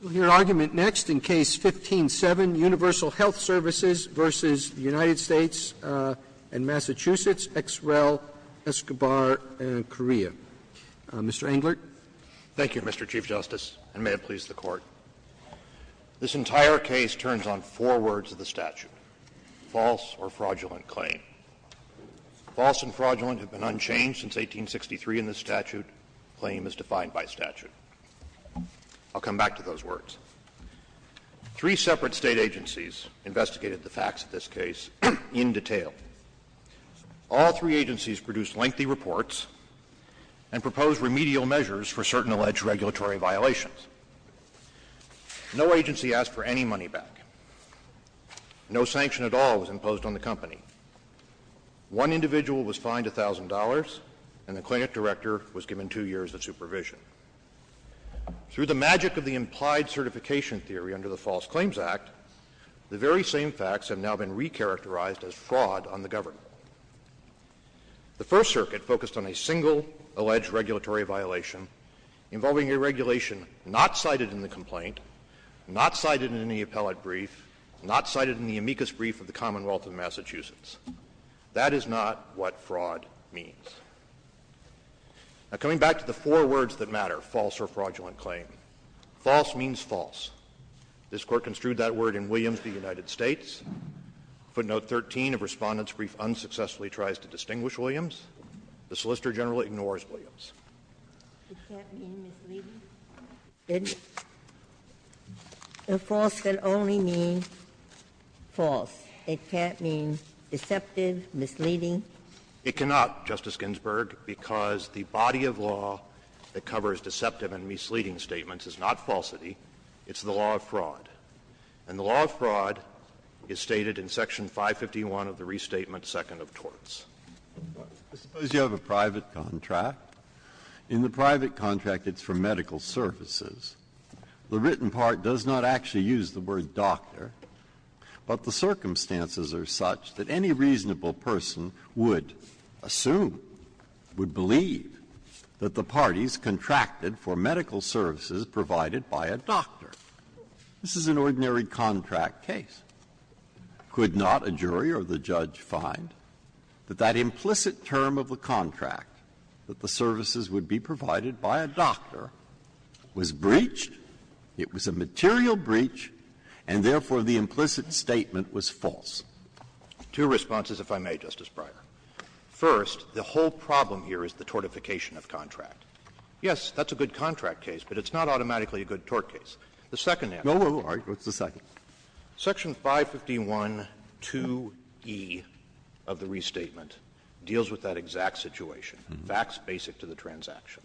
We'll hear argument next in Case 15-7, Universal Health Services v. United States and Massachusetts, XREL, Escobar, and Correa. Mr. Englert. Englert, Thank you, Mr. Chief Justice, and may it please the Court. This entire case turns on four words of the statute, false or fraudulent claim. False and fraudulent have been unchanged since 1863 in this statute. Claim is defined by statute. I'll come back to those words. Three separate State agencies investigated the facts of this case in detail. All three agencies produced lengthy reports and proposed remedial measures for certain alleged regulatory violations. No agency asked for any money back. No sanction at all was imposed on the company. One individual was fined $1,000, and the clinic director was given two years of supervision. Through the magic of the implied certification theory under the False Claims Act, the very same facts have now been recharacterized as fraud on the government. The First Circuit focused on a single alleged regulatory violation involving a regulation not cited in the complaint, not cited in the appellate brief, not cited in the amicus brief of the Commonwealth of Massachusetts. That is not what fraud means. Now, coming back to the four words that matter, false or fraudulent claim. False means false. This Court construed that word in Williams v. United States. Footnote 13 of Respondent's brief unsuccessfully tries to distinguish Williams. The Solicitor General ignores Williams. Ginsburg. It can't mean misleading, can it? A false can only mean false. It can't mean deceptive, misleading. It cannot, Justice Ginsburg, because the body of law that covers deceptive and misleading statements is not falsity, it's the law of fraud. And the law of fraud is stated in Section 551 of the Restatement, second of torts. I suppose you have a private contract. In the private contract, it's for medical services. The written part does not actually use the word doctor, but the circumstances are such that any reasonable person would assume, would believe, that the parties contracted for medical services provided by a doctor. This is an ordinary contract case. Could not a jury or the judge find that that implicit term of the contract, that the services would be provided by a doctor, was breached? It was a material breach, and therefore the implicit statement was false. Two responses, if I may, Justice Breyer. First, the whole problem here is the tortification of contract. Yes, that's a good contract case, but it's not automatically a good tort case. The second answer is that Section 551.2e of the Restatement deals with that exact situation, facts basic to the transaction.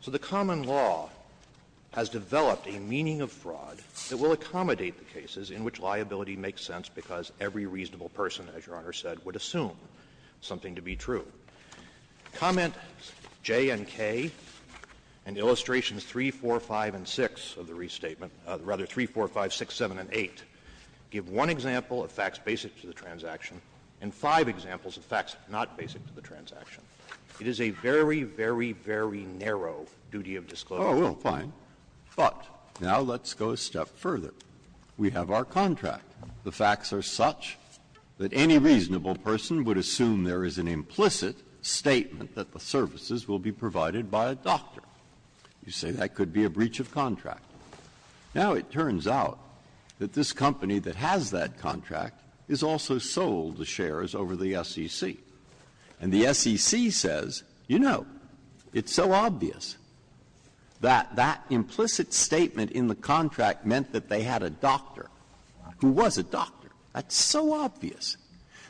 So the common law has developed a meaning of fraud that will accommodate the cases in which liability makes sense because every reasonable person, as Your Honor said, would assume something to be true. Comment J and K and illustrations 3, 4, 5, and 6 of the Restatement, rather 3, 4, 5, 6, 7, and 8, give one example of facts basic to the transaction and five examples of facts not basic to the transaction. It is a very, very, very narrow duty of disclosure. Oh, well, fine. But now let's go a step further. We have our contract. The facts are such that any reasonable person would assume there is an implicit statement that the services will be provided by a doctor. You say that could be a breach of contract. Now it turns out that this company that has that contract is also sold the shares over the SEC. And the SEC says, you know, it's so obvious that that implicit statement in the contract meant that they had a doctor who was a doctor. That's so obvious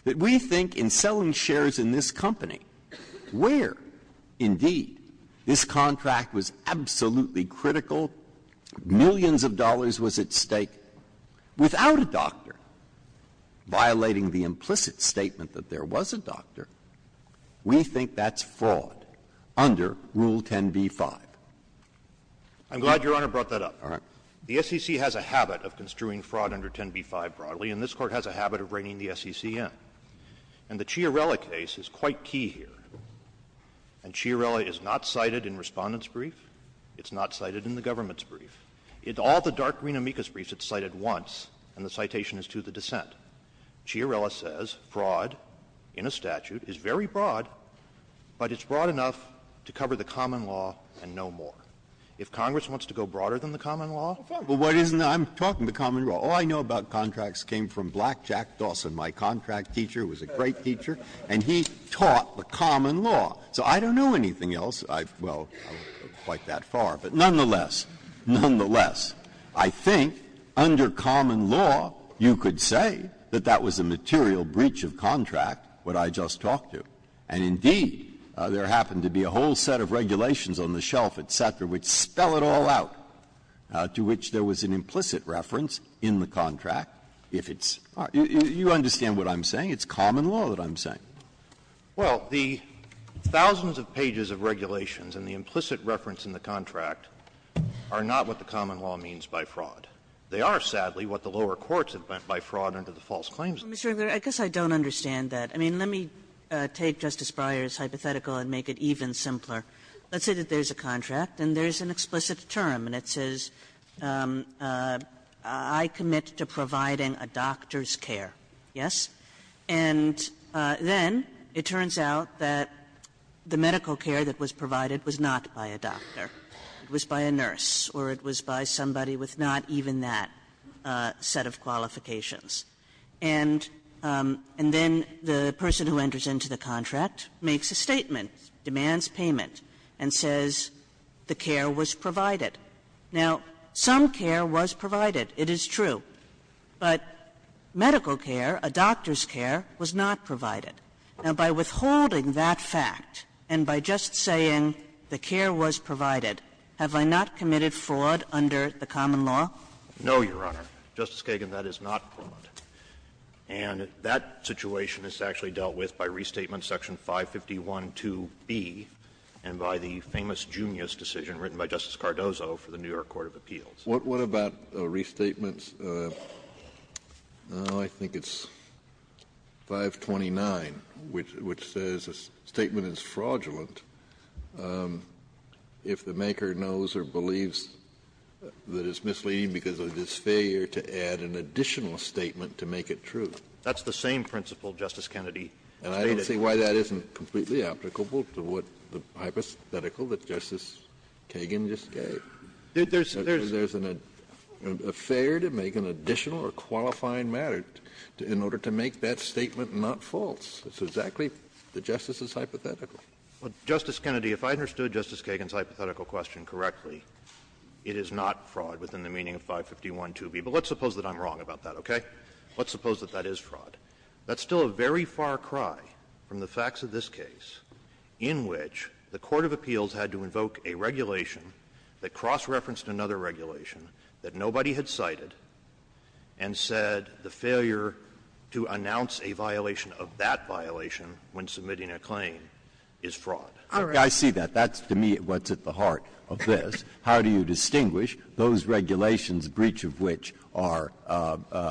that we think in selling shares in this company where, indeed, this contract was absolutely critical, millions of dollars was at stake, without a doctor violating the implicit statement that there was a doctor, we think that's fraud under Rule 10b-5. All right. The SEC has a habit of construing fraud under 10b-5 broadly, and this Court has a habit of reining the SEC in. And the Chiarella case is quite key here. And Chiarella is not cited in Respondent's brief. It's not cited in the government's brief. In all the dark green amicus briefs, it's cited once, and the citation is to the dissent. Chiarella says fraud in a statute is very broad, but it's broad enough to cover the common law and no more. If Congress wants to go broader than the common law? Well, what isn't? I'm talking the common law. All I know about contracts came from Blackjack Dawson, my contract teacher, who was a great teacher. And he taught the common law. So I don't know anything else. I've, well, I won't go quite that far. But nonetheless, nonetheless, I think under common law, you could say that that was a material breach of contract, what I just talked to. And indeed, there happened to be a whole set of regulations on the shelf, et cetera, which spell it all out, to which there was an implicit reference in the contract if it's not. You understand what I'm saying? It's common law that I'm saying. Well, the thousands of pages of regulations and the implicit reference in the contract are not what the common law means by fraud. They are, sadly, what the lower courts have meant by fraud under the false claims law. Kagan. I guess I don't understand that. I mean, let me take Justice Breyer's hypothetical and make it even simpler. Let's say that there's a contract and there's an explicit term, and it says, I commit to providing a doctor's care, yes? And then it turns out that the medical care that was provided was not by a doctor. It was by a nurse or it was by somebody with not even that set of qualifications. And then the person who enters into the contract makes a statement, demands payment, and says the care was provided. Now, some care was provided, it is true, but medical care, a doctor's care, was not provided. Now, by withholding that fact and by just saying the care was provided, have I not committed fraud under the common law? No, Your Honor. Justice Kagan, that is not fraud. And that situation is actually dealt with by Restatement Section 551.2b and by the famous Junius decision written by Justice Cardozo for the New York Court of Appeals. Kennedy, what about Restatements, I think it's 529, which says a statement is fraudulent if the maker knows or believes that it's misleading because of its failure to meet or failure to add an additional statement to make it true? That's the same principle Justice Kennedy stated. And I don't see why that isn't completely applicable to what the hypothetical that Justice Kagan just gave. There's an affair to make an additional or qualifying matter in order to make that statement not false. It's exactly the Justice's hypothetical. Justice Kennedy, if I understood Justice Kagan's hypothetical question correctly, it is not fraud within the meaning of 551.2b, but let's suppose that I'm wrong about that, okay? Let's suppose that that is fraud. That's still a very far cry from the facts of this case in which the court of appeals had to invoke a regulation that cross-referenced another regulation that nobody had cited and said the failure to announce a violation of that violation when submitting a claim is fraud. All right. Breyer, I see that. That's to me what's at the heart of this. How do you distinguish those regulations, breach of which are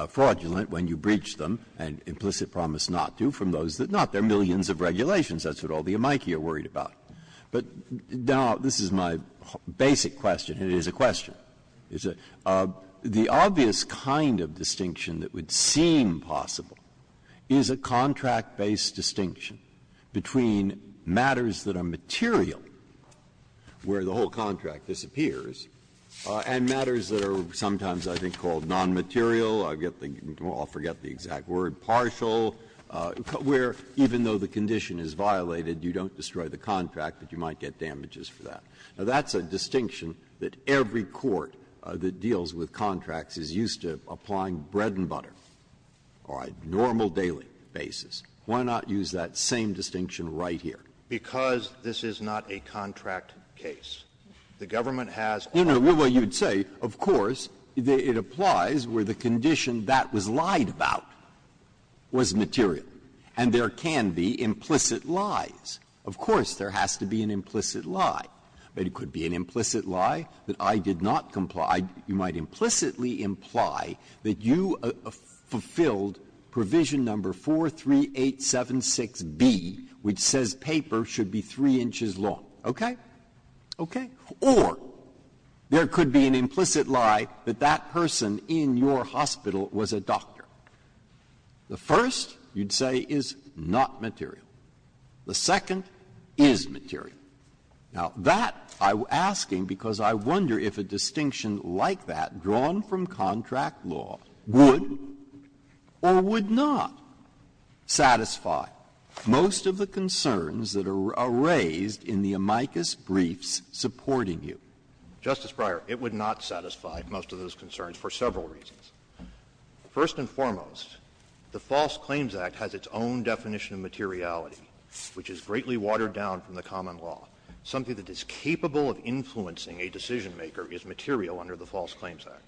fraudulent when you breach them and implicit promise not to, from those that are not? There are millions of regulations. That's what all the amici are worried about. But now this is my basic question, and it is a question. The obvious kind of distinction that would seem possible is a contract-based distinction between matters that are material, where the whole contract disappears, and matters that are sometimes, I think, called nonmaterial, I get the exact word, partial, where even though the condition is violated, you don't destroy the contract, but you might get damages for that. Now, that's a distinction that every court that deals with contracts is used to applying on a so-called bread-and-butter, all right, normal daily basis. Why not use that same distinction right here? Because this is not a contract case. The government has all the rights. No, no, well, you'd say, of course, it applies where the condition that was lied about was material, and there can be implicit lies. Of course there has to be an implicit lie. It could be an implicit lie that I did not comply. You might implicitly imply that you fulfilled provision number 43876B, which says paper should be 3 inches long, okay? Okay. Or there could be an implicit lie that that person in your hospital was a doctor. The first, you'd say, is not material. The second is material. Now, that I'm asking because I wonder if a distinction like that drawn from contract law would or would not satisfy most of the concerns that are raised in the amicus briefs supporting you. Justice Breyer, it would not satisfy most of those concerns for several reasons. First and foremost, the False Claims Act has its own definition of materiality, which is greatly watered down from the common law. Something that is capable of influencing a decisionmaker is material under the False Claims Act.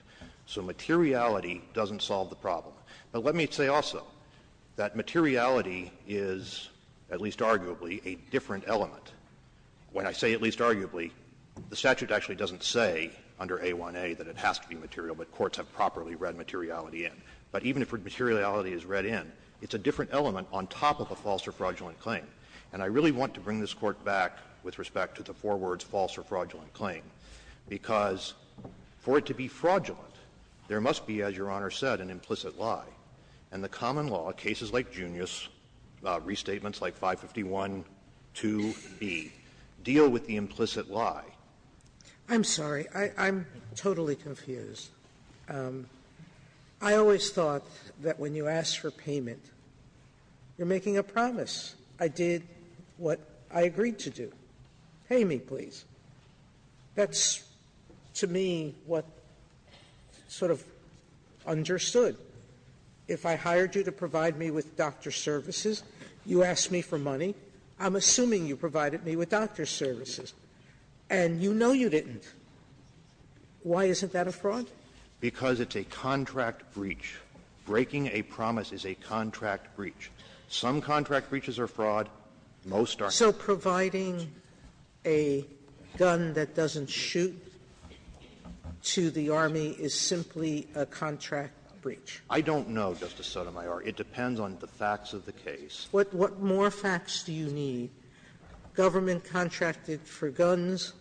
So materiality doesn't solve the problem. But let me say also that materiality is, at least arguably, a different element. When I say at least arguably, the statute actually doesn't say under A1A that it has to be material, but courts have properly read materiality in. But even if materiality is read in, it's a different element on top of a false or fraudulent claim. And I really want to bring this Court back with respect to the four words, false or fraudulent claim, because for it to be fraudulent, there must be, as Your Honor said, an implicit lie. And the common law, cases like Junius, restatements like 551.2b, deal with the implicit lie. Sotomayor, I'm sorry, I'm totally confused. I did what I agreed to do. Pay me, please. That's, to me, what sort of understood. If I hired you to provide me with doctor's services, you asked me for money. I'm assuming you provided me with doctor's services, and you know you didn't. Why isn't that a fraud? Because it's a contract breach. Breaking a promise is a contract breach. Some contract breaches are fraud. Most are contract breaches. Sotomayor, it depends on the facts of the case. Sotomayor, what more facts do you need? Government contracted for guns.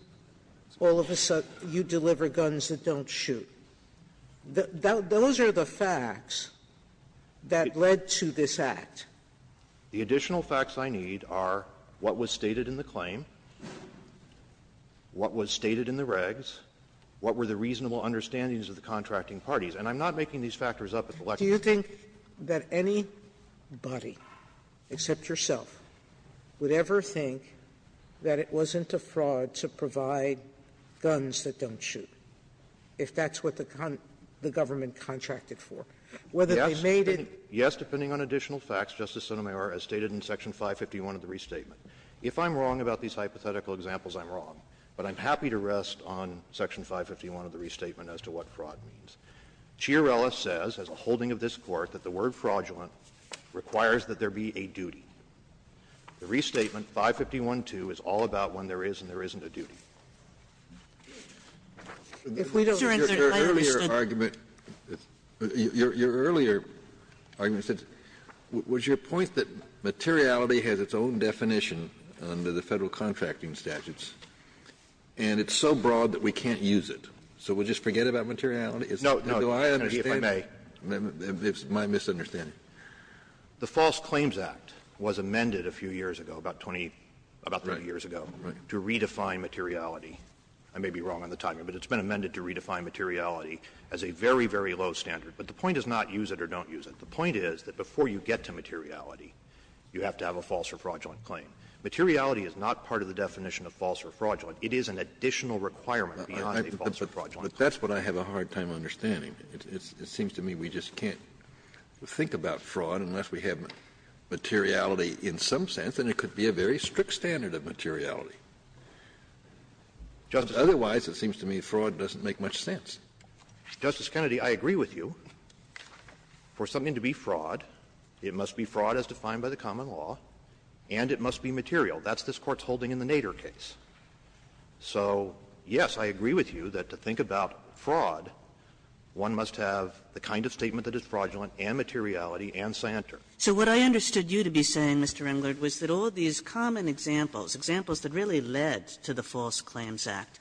All of a sudden you deliver guns that don't shoot. Those are the facts that led to this act. The additional facts I need are what was stated in the claim, what was stated in the regs, what were the reasonable understandings of the contracting parties. And I'm not making these factors up. Sotomayor, do you think that anybody, except yourself, would ever think that it wasn't a fraud to provide guns that don't shoot? If that's what the government contracted for. Whether they made it — Yes, depending on additional facts, Justice Sotomayor, as stated in section 551 of the restatement. If I'm wrong about these hypothetical examples, I'm wrong. But I'm happy to rest on section 551 of the restatement as to what fraud means. Chiarella says, as a holding of this Court, that the word fraudulent requires that there be a duty. The restatement, 551.2, is all about when there is and there isn't a duty. If we don't understand, I understand. Kennedy, your earlier argument said, was your point that materiality has its own definition under the Federal contracting statutes, and it's so broad that we can't use it? So we'll just forget about materiality? Is that what I understand? No, no, Mr. Kennedy, if I may. It's my misunderstanding. The False Claims Act was amended a few years ago, about 20, about 30 years ago, to redefine materiality. I may be wrong on the timing, but it's been amended to redefine materiality as a very, very low standard. But the point is not use it or don't use it. The point is that before you get to materiality, you have to have a false or fraudulent claim. Materiality is not part of the definition of false or fraudulent. It is an additional requirement beyond a false or fraudulent claim. Kennedy, but that's what I have a hard time understanding. It seems to me we just can't think about fraud unless we have materiality in some sense, and it could be a very strict standard of materiality. Otherwise, it seems to me fraud doesn't make much sense. Justice Kennedy, I agree with you. For something to be fraud, it must be fraud as defined by the common law, and it must be material. That's this Court's holding in the Nader case. So, yes, I agree with you that to think about fraud, one must have the kind of statement that is fraudulent and materiality and santer. So what I understood you to be saying, Mr. Englert, was that all these common examples, examples that really led to the False Claims Act,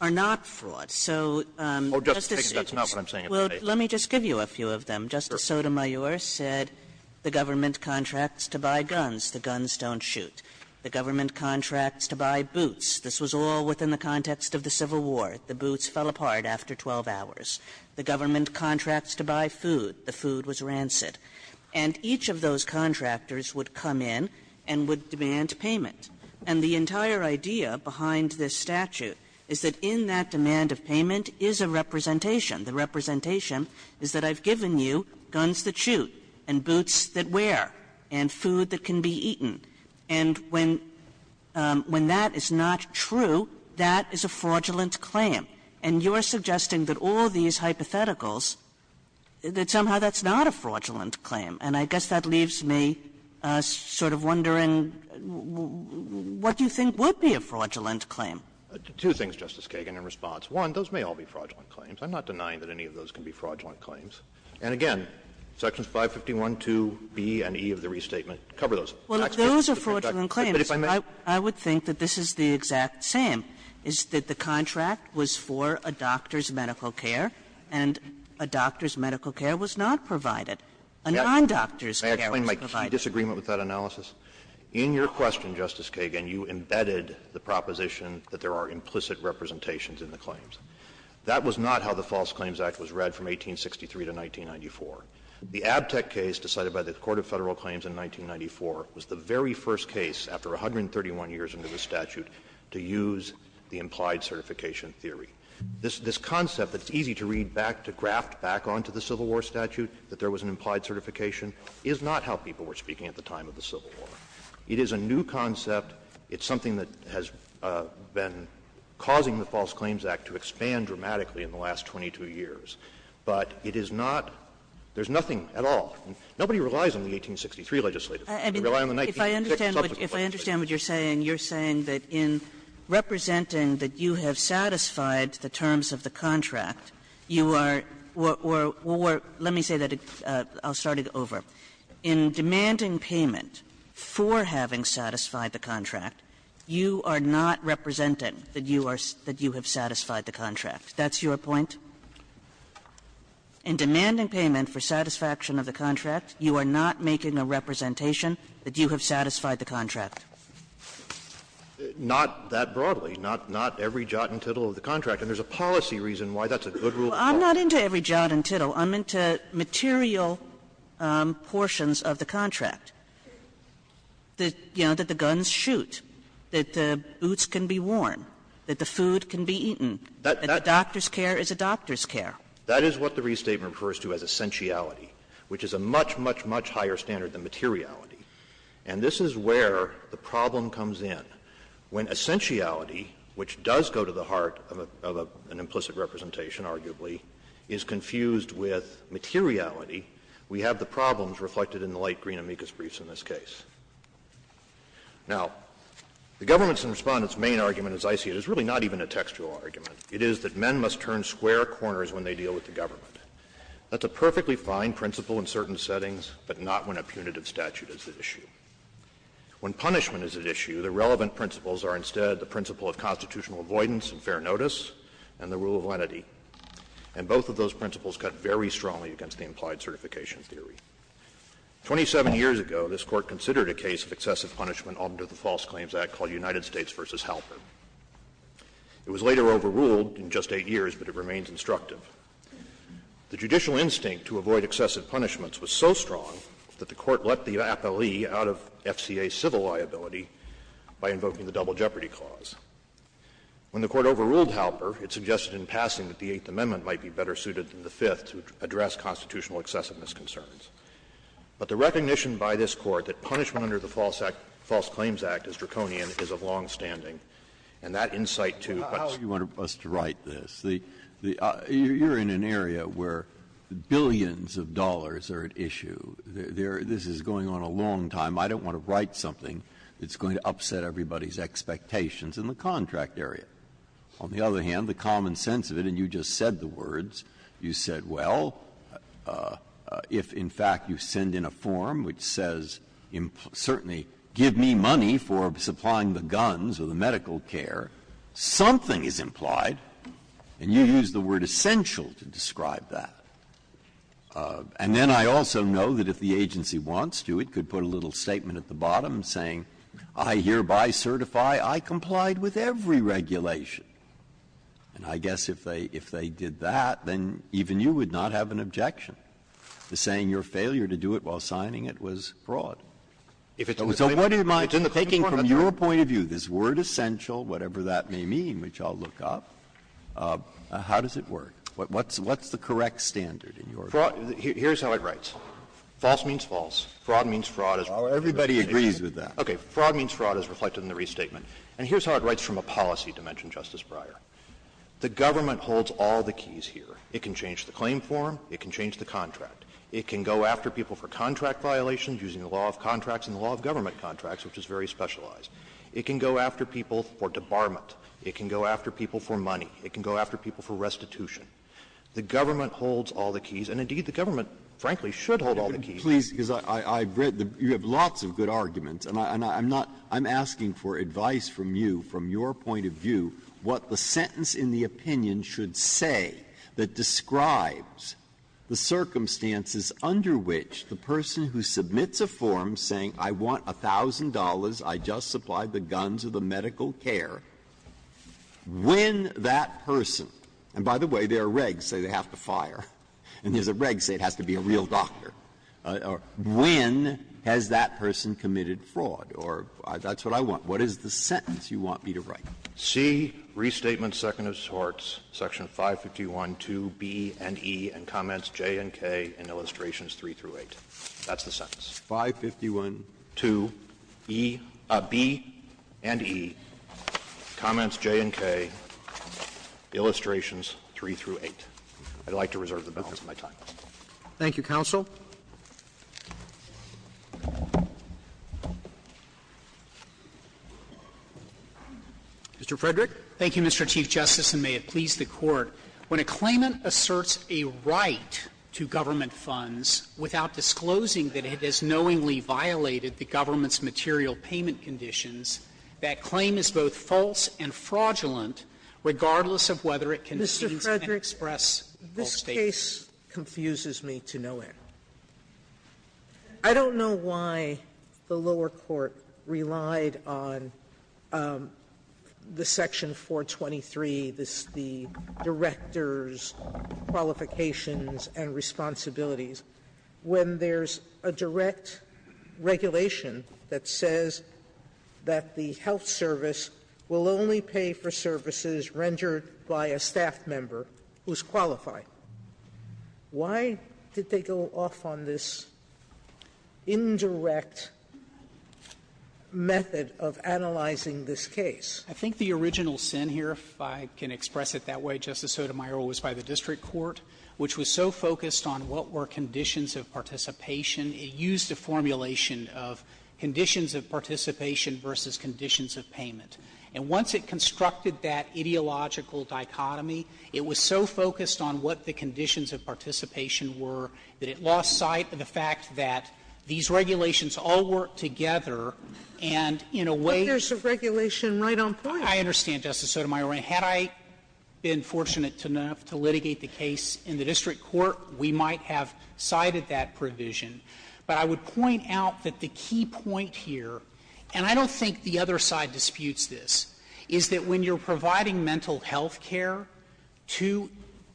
are not fraud. So, Justice Kagan, that's not what I'm saying. Well, let me just give you a few of them. Justice Sotomayor said the government contracts to buy guns, the guns don't shoot. The government contracts to buy boots. This was all within the context of the Civil War. The boots fell apart after 12 hours. The government contracts to buy food, the food was rancid. And each of those contractors would come in and would demand payment. And the entire idea behind this statute is that in that demand of payment is a representation. The representation is that I've given you guns that shoot and boots that wear and food that can be eaten. And when that is not true, that is a fraudulent claim. And you're suggesting that all these hypotheticals, that somehow that's not a fraudulent claim. And I guess that leaves me sort of wondering, what do you think would be a fraudulent claim? Two things, Justice Kagan, in response. One, those may all be fraudulent claims. I'm not denying that any of those can be fraudulent claims. And again, Sections 551.2b and e of the restatement cover those. Well, if those are fraudulent claims, I would think that this is the exact same, is that the contract was for a doctor's medical care and a doctor's medical care was not provided. A non-doctor's care was provided. May I explain my key disagreement with that analysis? In your question, Justice Kagan, you embedded the proposition that there are implicit representations in the claims. That was not how the False Claims Act was read from 1863 to 1994. The Abtec case decided by the Court of Federal Claims in 1994 was the very first case after 131 years under the statute to use the implied certification theory. This concept that's easy to read back, to graft back onto the Civil War statute, that there was an implied certification, is not how people were speaking at the time of the Civil War. It is a new concept. It's something that has been causing the False Claims Act to expand dramatically in the last 22 years. But it is not — there's nothing at all. Nobody relies on the 1863 legislative. They rely on the 1966 subsequent legislative. Kagan. Kagan. Kagan. You're saying that in representing that you have satisfied the terms of the contract, you are — or let me say that — I'll start it over. In demanding payment for having satisfied the contract, you are not representing that you are — that you have satisfied the contract. That's your point? In demanding payment for satisfaction of the contract, you are not making a representation that you have satisfied the contract. Not that broadly. Not every jot and tittle of the contract. And there's a policy reason why that's a good rule of thumb. Kagan. I'm not into every jot and tittle. I'm into material portions of the contract, that, you know, that the guns shoot, that the boots can be worn, that the food can be eaten, that the doctor's care is a doctor's care. That is what the restatement refers to as essentiality, which is a much, much, much higher standard than materiality. And this is where the problem comes in. When essentiality, which does go to the heart of an implicit representation, arguably, is confused with materiality, we have the problems reflected in the light green amicus briefs in this case. Now, the government's and Respondent's main argument, as I see it, is really not even a textual argument. It is that men must turn square corners when they deal with the government. That's a perfectly fine principle in certain settings, but not when a punitive statute is at issue. When punishment is at issue, the relevant principles are instead the principle of constitutional avoidance and fair notice and the rule of lenity. And both of those principles cut very strongly against the implied certification theory. Twenty-seven years ago, this Court considered a case of excessive punishment under the False Claims Act called United States v. Halpern. It was later overruled in just 8 years, but it remains instructive. The judicial instinct to avoid excessive punishments was so strong that the Court let the appellee out of FCA civil liability by invoking the Double Jeopardy Clause. When the Court overruled Halpern, it suggested in passing that the Eighth Amendment might be better suited than the Fifth to address constitutional excessiveness concerns. But the recognition by this Court that punishment under the False Act as draconian is of longstanding, and that insight to what's Breyer. Breyer, how do you want us to write this? You're in an area where billions of dollars are at issue. This is going on a long time. I don't want to write something that's going to upset everybody's expectations in the contract area. On the other hand, the common sense of it, and you just said the words, you said, well, if in fact you send in a form which says, certainly, give me money for supplying the guns or the medical care, something is implied, and you use the word essential to describe that. And then I also know that if the agency wants to, it could put a little statement at the bottom saying, I hereby certify I complied with every regulation. And I guess if they did that, then even you would not have an objection. The saying, your failure to do it while signing it, was broad. So what do you mind doing from your point of view? This word essential, whatever that may mean, which I'll look up, how does it work? What's the correct standard in your view? Here's how it writes. False means false. Fraud means fraud. Everybody agrees with that. Okay. Fraud means fraud, as reflected in the restatement. And here's how it writes from a policy dimension, Justice Breyer. The government holds all the keys here. It can change the claim form. It can change the contract. It can go after people for contract violations using the law of contracts and the law of government contracts, which is very specialized. It can go after people for debarment. It can go after people for money. It can go after people for restitution. The government holds all the keys, and, indeed, the government, frankly, should hold all the keys. Breyer, you have lots of good arguments, and I'm not, I'm asking for advice from you, from your point of view, what the sentence in the opinion should say that describes the circumstances under which the person who submits a form saying, I want $1,000, I just supplied the guns or the medical care, when that person, and by the way, there are regs say they have to fire, and there's a reg say it has to be a real doctor. When has that person committed fraud? Or that's what I want. What is the sentence you want me to write? C, restatement second of sorts, section 551.2b and e, and comments j and k in illustrations 3 through 8. That's the sentence. 551.2b and e, comments j and k, illustrations 3 through 8. I'd like to reserve the balance of my time. Roberts. Thank you, counsel. Mr. Frederick. Thank you, Mr. Chief Justice, and may it please the Court. When a claimant asserts a right to government funds without disclosing that it has knowingly violated the government's material payment conditions, that claim is both false and fraudulent, regardless of whether it contains and express false statements. Mr. Frederick, this case confuses me to no end. I don't know why the lower court relied on the section 423, the director's qualifications and responsibilities, when there's a direct regulation that says that the health service will only pay for services rendered by a staff member who's qualified. Why did they go off on this indirect method of analyzing this case? I think the original sin here, if I can express it that way, Justice Sotomayor, was by the district court, which was so focused on what were conditions of participation, it used a formulation of conditions of participation versus conditions of payment. And once it constructed that ideological dichotomy, it was so focused on what the conditions of participation were that it lost sight of the fact that these regulations all work together, and in a way to the point where it's not just a matter of whether it's qualified or not. Sotomayor, had I been fortunate enough to litigate the case in the district court, we might have cited that provision. But I would point out that the key point here, and I don't think the other side disputes this, is that when you're providing mental health care to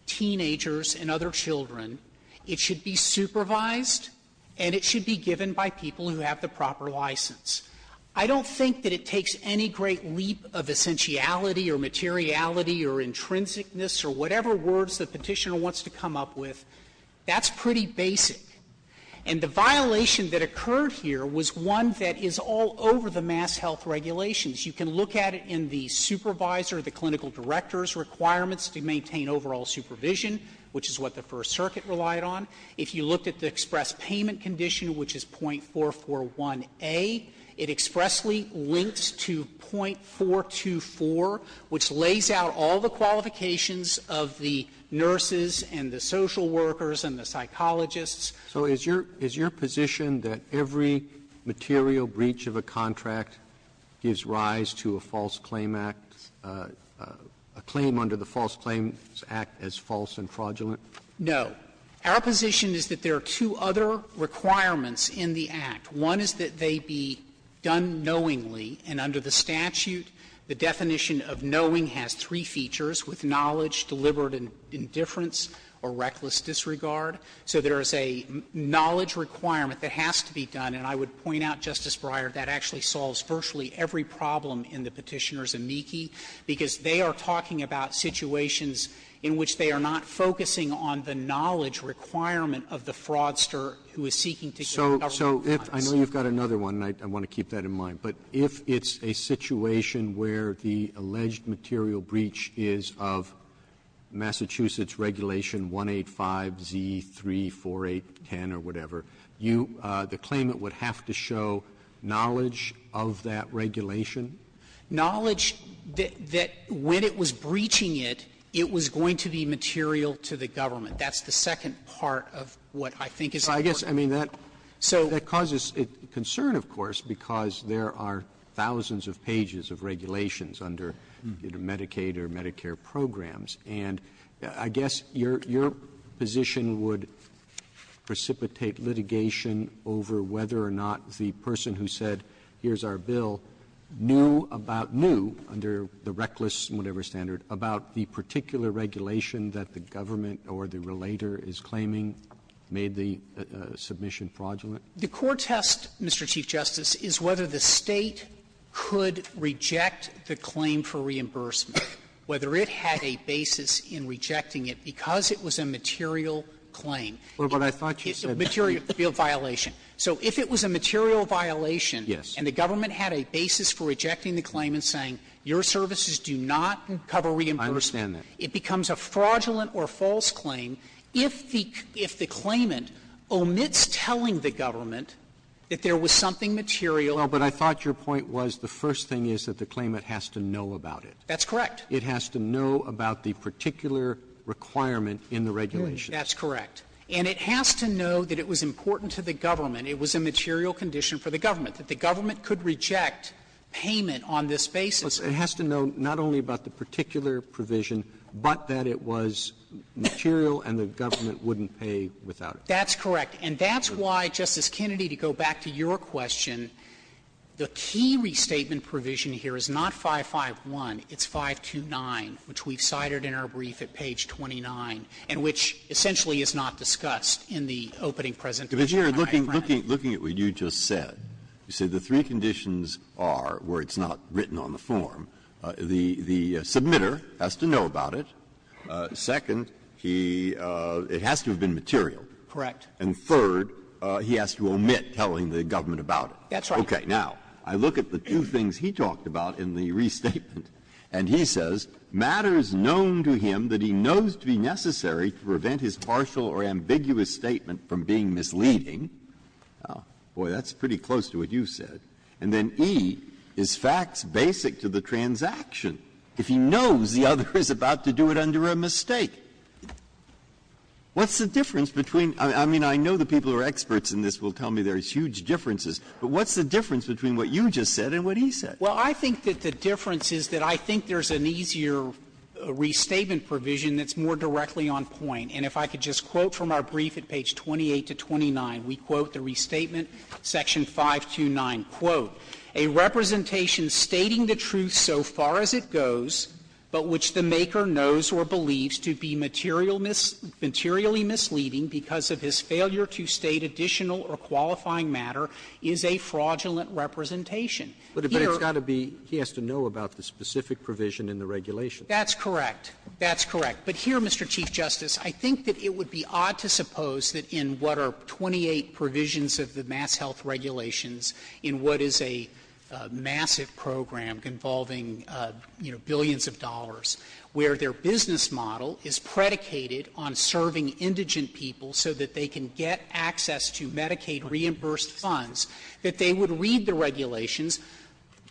teenagers and other children, it should be supervised and it should be given by people who have the proper license. I don't think that it takes any great leap of essentiality or materiality or intrinsicness or whatever words the Petitioner wants to come up with. That's pretty basic. And the violation that occurred here was one that is all over the mass health regulations. You can look at it in the supervisor, the clinical director's requirements to maintain overall supervision, which is what the First Circuit relied on. If you looked at the express payment condition, which is .441a, it expressly links to .424, which lays out all the qualifications of the nurses and the social workers and the psychologists. Robertson, is your position that every material breach of a contract gives rise to a false claim act, a claim under the False Claims Act as false and fraudulent? No. Our position is that there are two other requirements in the act. One is that they be done knowingly, and under the statute, the definition of knowing has three features, with knowledge, deliberate indifference, or reckless disregard. So there is a knowledge requirement that has to be done, and I would point out, Justice Breyer, that actually solves virtually every problem in the Petitioner's amici, because they are talking about situations in which they are not focusing on the knowledge requirement of the fraudster who is seeking to get a government policy. Robertson, I know you've got another one, and I want to keep that in mind, but if it's a situation where the alleged material breach is of Massachusetts Regulation 185Z34810 or whatever, you the claimant would have to show knowledge of that regulation? Knowledge that when it was breaching it, it was going to be material to the government. That's the second part of what I think is important. Well, I guess, I mean, that causes concern, of course, because there are thousands of pages of regulations under Medicaid or Medicare programs, and I guess your position would precipitate litigation over whether or not the person who said, here's our bill, knew about new, under the reckless whatever standard, about the particular regulation that the government or the relator is claiming made the legislation submission fraudulent. The core test, Mr. Chief Justice, is whether the State could reject the claim for reimbursement, whether it had a basis in rejecting it because it was a material claim. Well, but I thought you said that. Material violation. So if it was a material violation and the government had a basis for rejecting the claimant saying, your services do not cover reimbursement, it becomes a fraudulent or false claim if the claimant omits telling the government that there was something material. Well, but I thought your point was the first thing is that the claimant has to know about it. That's correct. It has to know about the particular requirement in the regulation. That's correct. And it has to know that it was important to the government, it was a material condition for the government, that the government could reject payment on this basis. It has to know not only about the particular provision, but that it was material and the government wouldn't pay without it. That's correct. And that's why, Justice Kennedy, to go back to your question, the key restatement provision here is not 551, it's 529, which we've cited in our brief at page 29, and which essentially is not discussed in the opening presentation. Breyer, looking at what you just said, you said the three conditions are where it's not written on the form. The submitter has to know about it. Second, he has to have been material. Correct. And third, he has to omit telling the government about it. That's right. Okay. Now, I look at the two things he talked about in the restatement, and he says, matter is known to him that he knows to be necessary to prevent his partial or ambiguous statement from being misleading. Boy, that's pretty close to what you said. And then E is facts basic to the transaction, if he knows the other is about to do it under a mistake. What's the difference between – I mean, I know the people who are experts in this will tell me there's huge differences, but what's the difference between what you just said and what he said? Well, I think that the difference is that I think there's an easier restatement provision that's more directly on point. And if I could just quote from our brief at page 28 to 29, we quote the restatement section 529, quote, "...a representation stating the truth so far as it goes, but which the maker knows or believes to be materially misleading because of his failure to state additional or qualifying matter is a fraudulent representation." But it's got to be – he has to know about the specific provision in the regulation. That's correct. That's correct. But here, Mr. Chief Justice, I think that it would be odd to suppose that in what is a massive program involving, you know, billions of dollars, where their business model is predicated on serving indigent people so that they can get access to Medicaid reimbursed funds, that they would read the regulations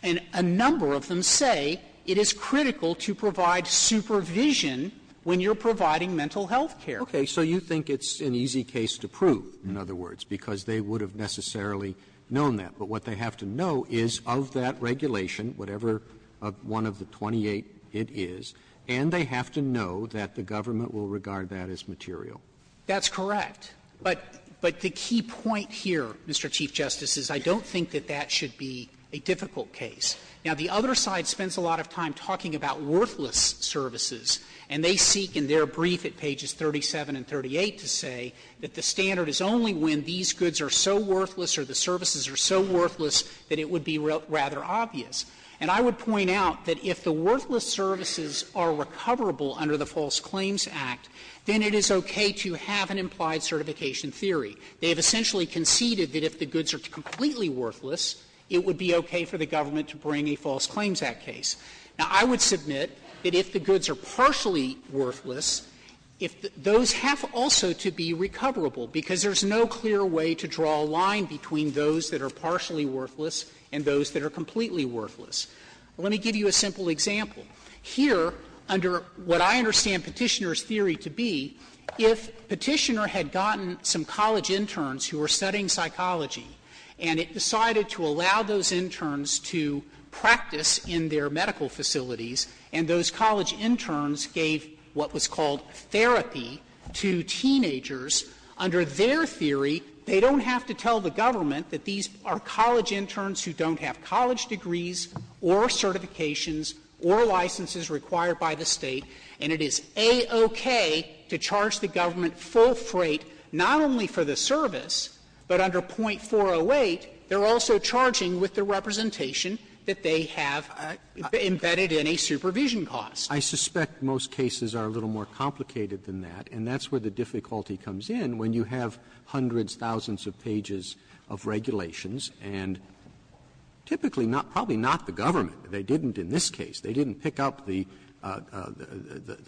and a number of them say it is critical to provide supervision when you're providing mental health care. Okay. So you think it's an easy case to prove. In other words, because they would have necessarily known that. But what they have to know is of that regulation, whatever one of the 28 it is, and they have to know that the government will regard that as material. That's correct. But the key point here, Mr. Chief Justice, is I don't think that that should be a difficult case. Now, the other side spends a lot of time talking about worthless services, and they are so worthless or the services are so worthless that it would be rather obvious. And I would point out that if the worthless services are recoverable under the False Claims Act, then it is okay to have an implied certification theory. They have essentially conceded that if the goods are completely worthless, it would be okay for the government to bring a False Claims Act case. Now, I would submit that if the goods are partially worthless, if those have also to be recoverable, because there's no clear way to draw a line between those that are partially worthless and those that are completely worthless. Let me give you a simple example. Here, under what I understand Petitioner's theory to be, if Petitioner had gotten some college interns who were studying psychology, and it decided to allow those interns to practice in their medical facilities, and those college interns gave what was called therapy to teenagers, under their theory, they don't have to tell the government that these are college interns who don't have college degrees or certifications or licenses required by the State, and it is a-okay to charge the government full freight, not only for the service, but under .408, they're also charging with the representation that they have embedded in a supervision cost. I suspect most cases are a little more complicated than that, and that's where the difficulty comes in when you have hundreds, thousands of pages of regulations and typically not, probably not the government. They didn't in this case, they didn't pick up the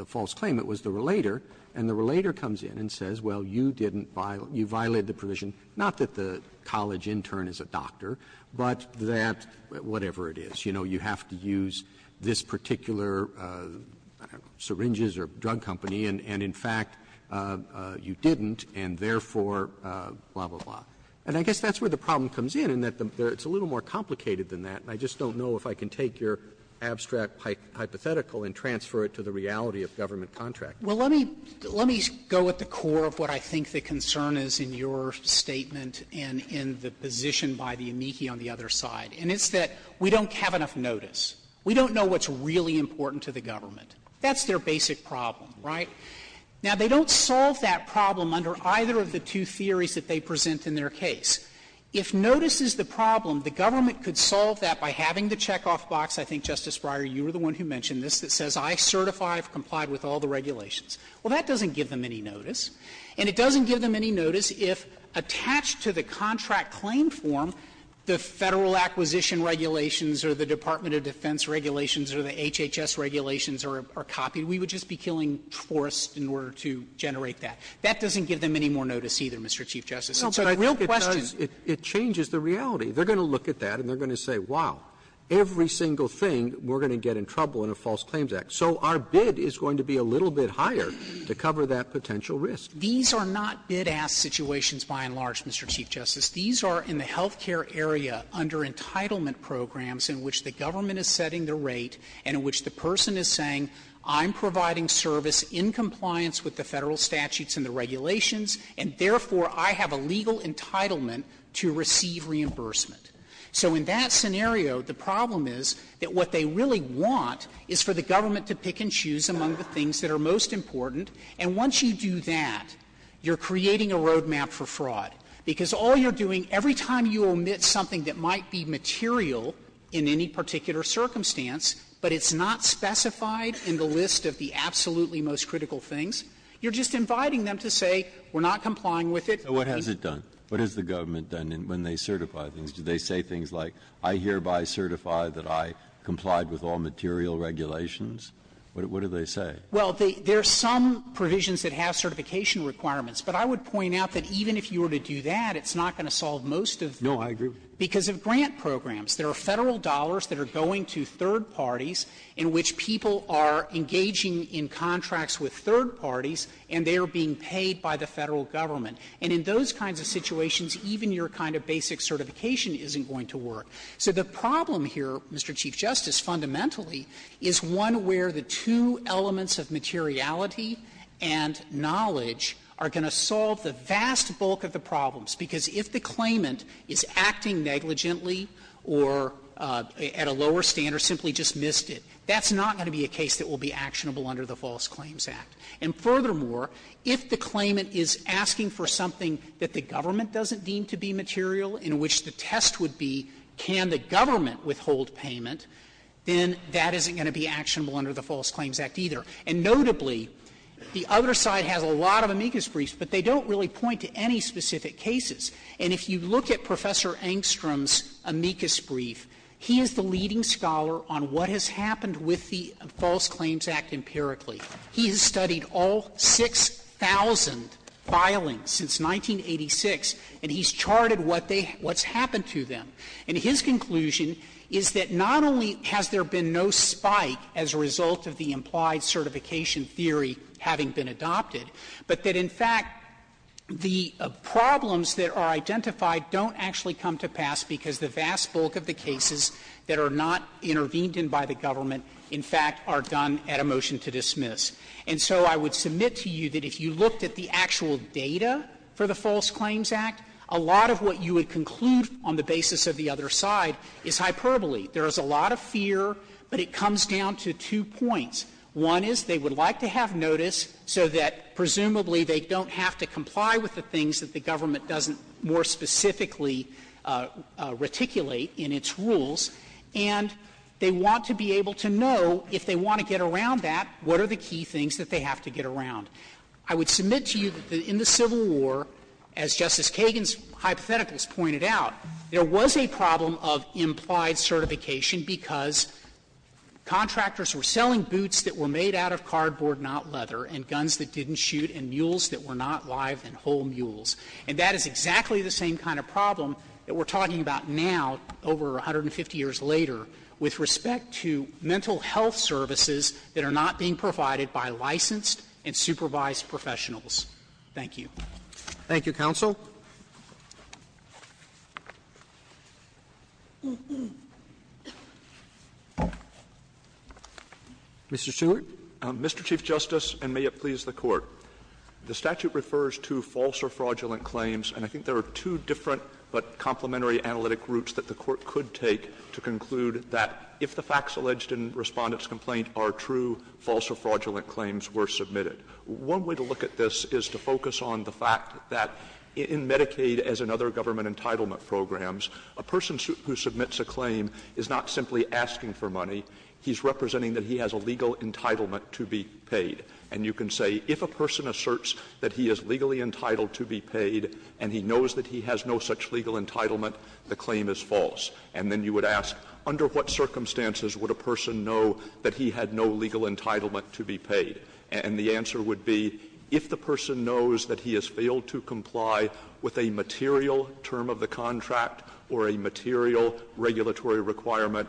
false claim, it was the relator, and the relator comes in and says, well, you didn't violate, you violated the provision, not that the college intern is a doctor, but that whatever it is, you know, you have to use this particular, I don't know, syringes or drug company, and in fact, you didn't, and therefore, blah, blah, blah. And I guess that's where the problem comes in, in that it's a little more complicated than that, and I just don't know if I can take your abstract hypothetical and transfer it to the reality of government contract. Frederick, let me go at the core of what I think the concern is in your statement and in the position by the amici on the other side, and it's that we don't have enough of a notice. We don't know what's really important to the government. That's their basic problem, right? Now, they don't solve that problem under either of the two theories that they present in their case. If notice is the problem, the government could solve that by having the checkoff box, I think, Justice Breyer, you were the one who mentioned this, that says I certify I've complied with all the regulations. Well, that doesn't give them any notice, and it doesn't give them any notice if attached to the contract claim form, the Federal Acquisition Regulations or the Department of Defense Regulations or the HHS Regulations are copied. We would just be killing forests in order to generate that. That doesn't give them any more notice either, Mr. Chief Justice. It's a real question. Roberts, it changes the reality. They're going to look at that and they're going to say, wow, every single thing we're going to get in trouble in a False Claims Act. So our bid is going to be a little bit higher to cover that potential risk. These are not bid-ask situations by and large, Mr. Chief Justice. These are in the health care area under entitlement programs in which the government is setting the rate and in which the person is saying I'm providing service in compliance with the Federal statutes and the regulations, and therefore I have a legal entitlement to receive reimbursement. So in that scenario, the problem is that what they really want is for the government to pick and choose among the things that are most important. And once you do that, you're creating a road map for fraud, because all you're doing, every time you omit something that might be material in any particular circumstance, but it's not specified in the list of the absolutely most critical things, you're just inviting them to say we're not complying with it. Breyer, what has it done? What has the government done when they certify things? Do they say things like, I hereby certify that I complied with all material regulations? What do they say? Well, there are some provisions that have certification requirements, but I would point out that even if you were to do that, it's not going to solve most of the problems. No, I agree. Because of grant programs. There are Federal dollars that are going to third parties in which people are engaging in contracts with third parties and they are being paid by the Federal government. And in those kinds of situations, even your kind of basic certification isn't going to work. So the problem here, Mr. Chief Justice, fundamentally, is one where the two elements of materiality and knowledge are going to solve the vast bulk of the problems. Because if the claimant is acting negligently or at a lower standard, simply just missed it, that's not going to be a case that will be actionable under the False Claims Act. And furthermore, if the claimant is asking for something that the government doesn't deem to be material in which the test would be can the government withhold payment, then that isn't going to be actionable under the False Claims Act either. And notably, the other side has a lot of amicus briefs, but they don't really point to any specific cases. And if you look at Professor Engstrom's amicus brief, he is the leading scholar on what has happened with the False Claims Act empirically. He has studied all 6,000 filings since 1986, and he's charted what they have — what's happened to them. And his conclusion is that not only has there been no spike as a result of the implied certification theory having been adopted, but that, in fact, the problems that are identified don't actually come to pass because the vast bulk of the cases that are not intervened in by the government, in fact, are done at a motion to dismiss. And so I would submit to you that if you looked at the actual data for the False Claims Act, a lot of what you would conclude on the basis of the other side is hyperbole. There is a lot of fear, but it comes down to two points. One is they would like to have notice so that presumably they don't have to comply with the things that the government doesn't more specifically reticulate in its rules, and they want to be able to know if they want to get around that, what are the key things that they have to get around. I would submit to you that in the Civil War, as Justice Kagan's hypotheticals pointed out, there was a problem of implied certification because contractors were selling boots that were made out of cardboard, not leather, and guns that didn't shoot, and mules that were not live and whole mules. And that is exactly the same kind of problem that we're talking about now over 150 years later with respect to mental health services that are not being provided by licensed and supervised professionals. Thank you. Roberts Thank you, counsel. Mr. Stewart. Stewart. Stewart. Mr. Chief Justice, and may it please the Court, the statute refers to false or fraudulent claims, and I think there are two different but complementary analytic routes that the Court could take to conclude that if the facts alleged in Respondent's complaint are true, false or fraudulent claims were submitted. One way to look at this is to focus on the fact that in Medicaid, as in other government entitlement programs, a person who submits a claim is not simply asking for money. He's representing that he has a legal entitlement to be paid. And you can say, if a person asserts that he is legally entitled to be paid and he knows that he has no such legal entitlement, the claim is false. And then you would ask, under what circumstances would a person know that he had no legal entitlement to be paid? And the answer would be, if the person knows that he has failed to comply with a material term of the contract or a material regulatory requirement,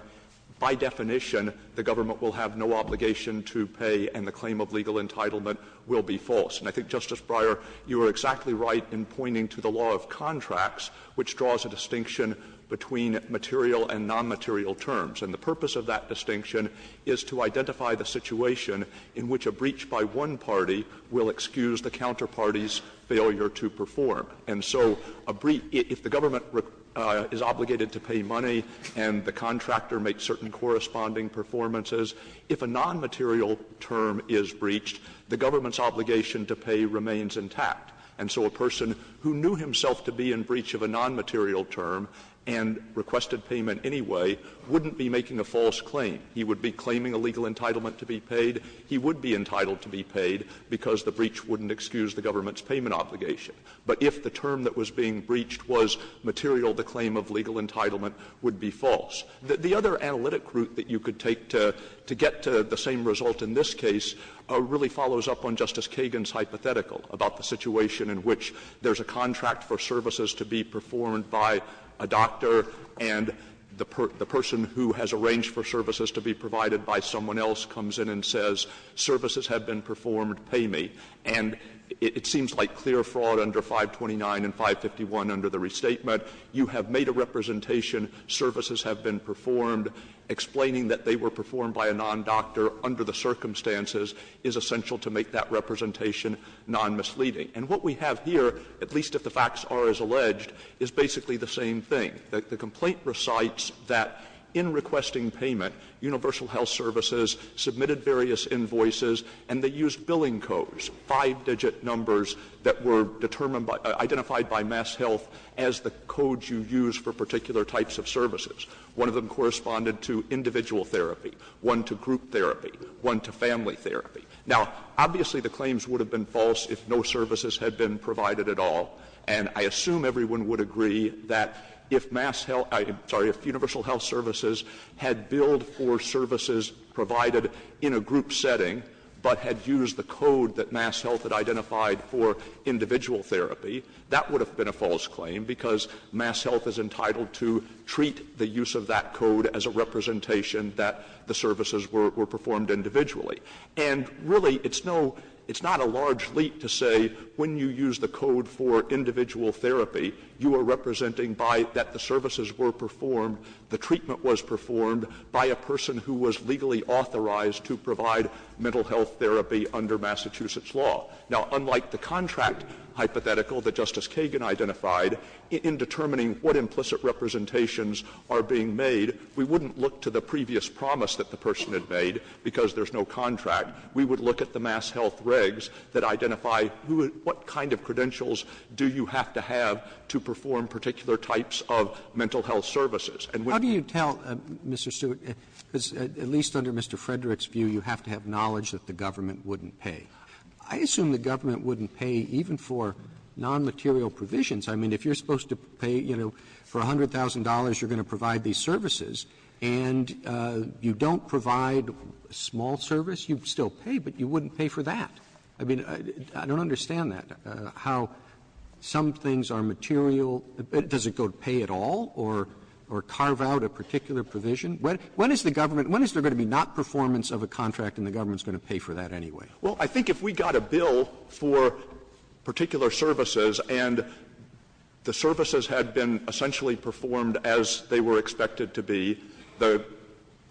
by definition, the government will have no obligation to pay and the claim of legal entitlement will be false. And I think, Justice Breyer, you are exactly right in pointing to the law of contracts, which draws a distinction between material and nonmaterial terms. And the purpose of that distinction is to identify the situation in which a breach by one party will excuse the counterparty's failure to perform. And so a breach — if the government is obligated to pay money and the contractor makes certain corresponding performances, if a nonmaterial term is breached, the government's obligation to pay remains intact. And so a person who knew himself to be in breach of a nonmaterial term and requested payment anyway wouldn't be making a false claim. He would be claiming a legal entitlement to be paid. He would be entitled to be paid because the breach wouldn't excuse the government's payment obligation. But if the term that was being breached was material, the claim of legal entitlement would be false. The other analytic route that you could take to get to the same result in this case really follows up on Justice Kagan's hypothetical about the situation in which there is a contract for services to be performed by a doctor, and the person who has arranged for services to be provided by someone else comes in and says, services have been performed, pay me. And it seems like clear fraud under 529 and 551 under the restatement. You have made a representation, services have been performed. Explaining that they were performed by a non-doctor under the circumstances is essential to make that representation non-misleading. And what we have here, at least if the facts are as alleged, is basically the same thing. The complaint recites that in requesting payment, Universal Health Services submitted various invoices, and they used billing codes, five-digit numbers that were determined by — identified by MassHealth as the codes you use for particular types of services. One of them corresponded to individual therapy, one to group therapy, one to family therapy. Now, obviously, the claims would have been false if no services had been provided at all, and I assume everyone would agree that if MassHealth — I'm sorry, if Universal Health Services had billed for services provided in a group setting, but had used the code that MassHealth had identified for individual therapy, that would have been a false claim, because MassHealth is entitled to treat the use of that code as a representation that the services were — were performed individually. And really, it's no — it's not a large leap to say when you use the code for individual therapy, you are representing by that the services were performed, the treatment was performed by a person who was legally authorized to provide mental health therapy under Massachusetts law. Now, unlike the contract hypothetical that Justice Kagan identified, in determining what implicit representations are being made, we wouldn't look to the previous promise that the person had made, because there's no contract. We would look at the MassHealth regs that identify who — what kind of credentials do you have to have to perform particular types of mental health services. And when — Roberts' How do you tell, Mr. Stewart, because at least under Mr. Frederick's view, you have to have knowledge that the government wouldn't pay. I assume the government wouldn't pay even for nonmaterial provisions. I mean, if you're supposed to pay, you know, for $100,000, you're going to provide these services, and you don't provide a small service, you'd still pay, but you wouldn't pay for that. I mean, I don't understand that, how some things are material — does it go to pay at all or carve out a particular provision? When is the government — when is there going to be not performance of a contract and the government is going to pay for that anyway? Stewart. Well, I think if we got a bill for particular services and the services had been essentially performed as they were expected to be, the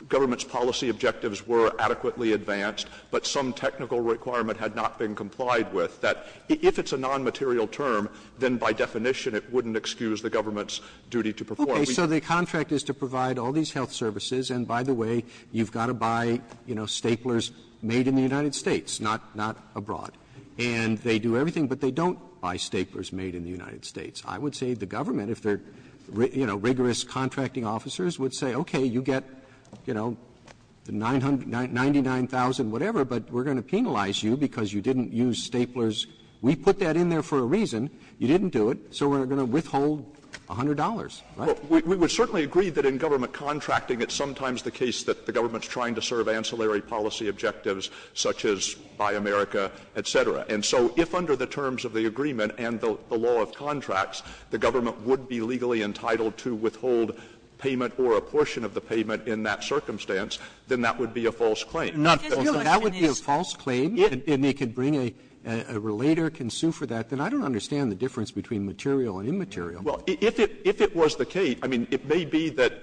government's policy objectives were adequately advanced, but some technical requirement had not been complied with, that if it's a nonmaterial term, then by definition it wouldn't excuse the government's duty to perform. Okay. So the contract is to provide all these health services, and by the way, you've got to buy, you know, staplers made in the United States, not abroad. And they do everything, but they don't buy staplers made in the United States. I would say the government, if they're, you know, rigorous contracting officers, would say, okay, you get, you know, the 999,000, whatever, but we're going to penalize you because you didn't use staplers. We put that in there for a reason. You didn't do it, so we're going to withhold $100, right? Well, we would certainly agree that in government contracting it's sometimes the case that the government's trying to serve ancillary policy objectives such as Buy America, et cetera. And so if under the terms of the agreement and the law of contracts, the government would be legally entitled to withhold payment or a portion of the payment in that circumstance, then that would be a false claim. Roberts, that would be a false claim, and they could bring a relator, can sue for that. Then I don't understand the difference between material and immaterial. Well, if it was the case, I mean, it may be that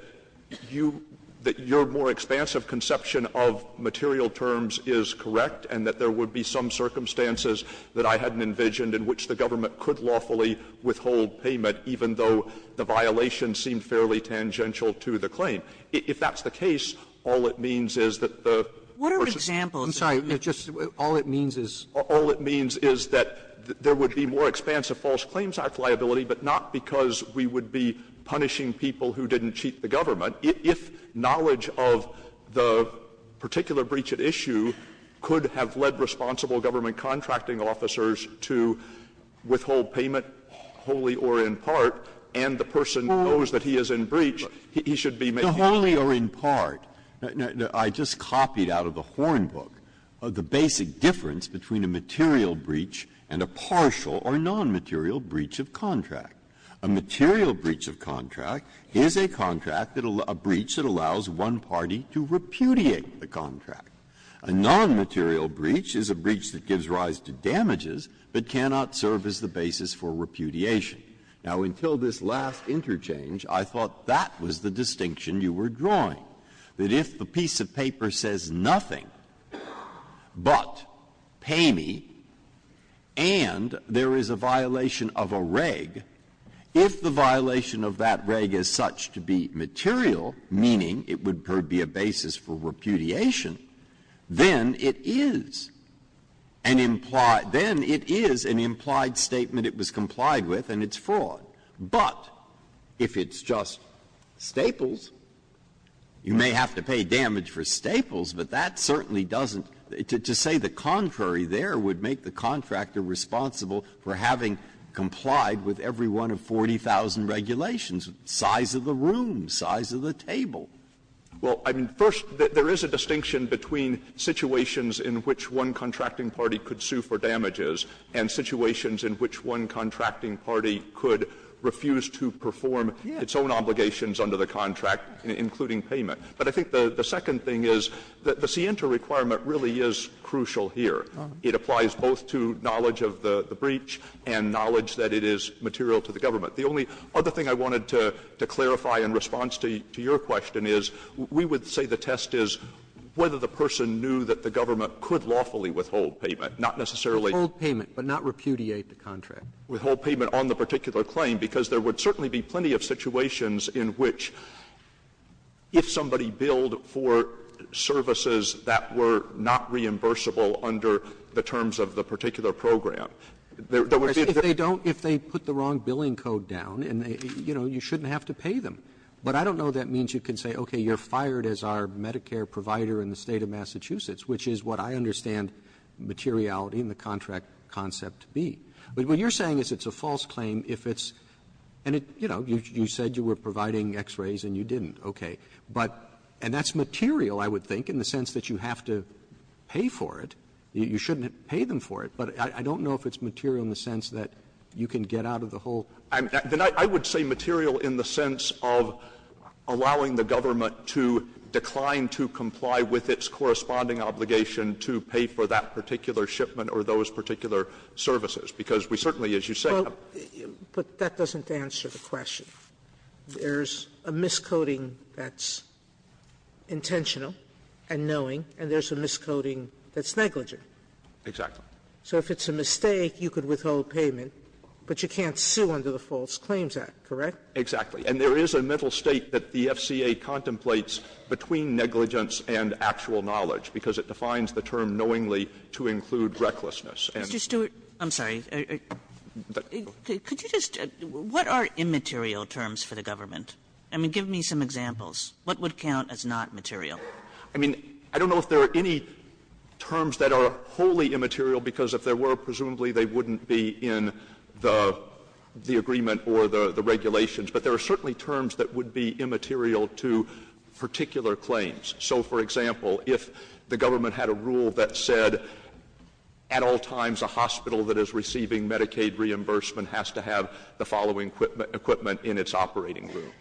you, that your more expansive conception of material terms is correct and that there would be some circumstances that I hadn't envisioned in which the government could lawfully withhold payment, even though the violation seemed fairly tangential to the claim. If that's the case, all it means is that the person's ---- Sotomayor, I'm sorry. All it means is ---- All it means is that there would be more expansive False Claims Act liability, but not because we would be punishing people who didn't cheat the government. If knowledge of the particular breach at issue could have led responsible government contracting officers to withhold payment, wholly or in part, and the person knows that he is in breach, he should be making a breach. The wholly or in part, I just copied out of the Horn book, the basic difference between a material breach and a partial or nonmaterial breach of contract. A material breach of contract is a contract, a breach that allows one party to repudiate the contract. A nonmaterial breach is a breach that gives rise to damages, but cannot serve as the basis for repudiation. Now, until this last interchange, I thought that was the distinction you were drawing, that if the piece of paper says nothing but pay me and there is a violation of a reg, if the violation of that reg is such to be material, meaning it would never be a basis for repudiation, then it is an implied statement it was complied with and it's fraud. But if it's just Staples, you may have to pay damage for Staples, but that certainly doesn't to say the contrary there would make the contractor responsible for having complied with every one of 40,000 regulations, size of the room, size of the table. Well, I mean, first, there is a distinction between situations in which one contracting party could sue for damages and situations in which one contracting party could refuse to perform its own obligations under the contract, including payment. But I think the second thing is that the Sienta requirement really is crucial here. It applies both to knowledge of the breach and knowledge that it is material to the government. The only other thing I wanted to clarify in response to your question is we would say the test is whether the person knew that the government could lawfully withhold payment, not necessarily. Hold payment, but not repudiate the contract. Withhold payment on the particular claim, because there would certainly be plenty of situations in which if somebody billed for services that were not reimbursable If they put the wrong billing code down, you know, you shouldn't have to pay them. But I don't know if that means you can say, okay, you're fired as our Medicare provider in the State of Massachusetts, which is what I understand materiality in the contract concept to be. But what you're saying is it's a false claim if it's and, you know, you said you were providing x-rays and you didn't. Okay. But and that's material, I would think, in the sense that you have to pay for it. You shouldn't pay them for it. But I don't know if it's material in the sense that you can get out of the whole contract. I mean, I would say material in the sense of allowing the government to decline to comply with its corresponding obligation to pay for that particular shipment or those particular services, because we certainly, as you say, have to pay them. Sotomayor But that doesn't answer the question. There's a miscoding that's intentional and knowing, and there's a miscoding that's negligent. Exactly. Sotomayor So if it's a mistake, you could withhold payment, but you can't sue under the False Claims Act, correct? Exactly. And there is a mental state that the FCA contemplates between negligence and actual knowledge, because it defines the term knowingly to include recklessness. And Mr. Stewart, I'm sorry. Could you just what are immaterial terms for the government? I mean, give me some examples. What would count as not material? I mean, I don't know if there are any terms that are wholly immaterial, because if there were, presumably they wouldn't be in the agreement or the regulations, but there are certainly terms that would be immaterial to particular claims. So, for example, if the government had a rule that said at all times a hospital that is receiving Medicaid reimbursement has to have the following equipment in its operating room,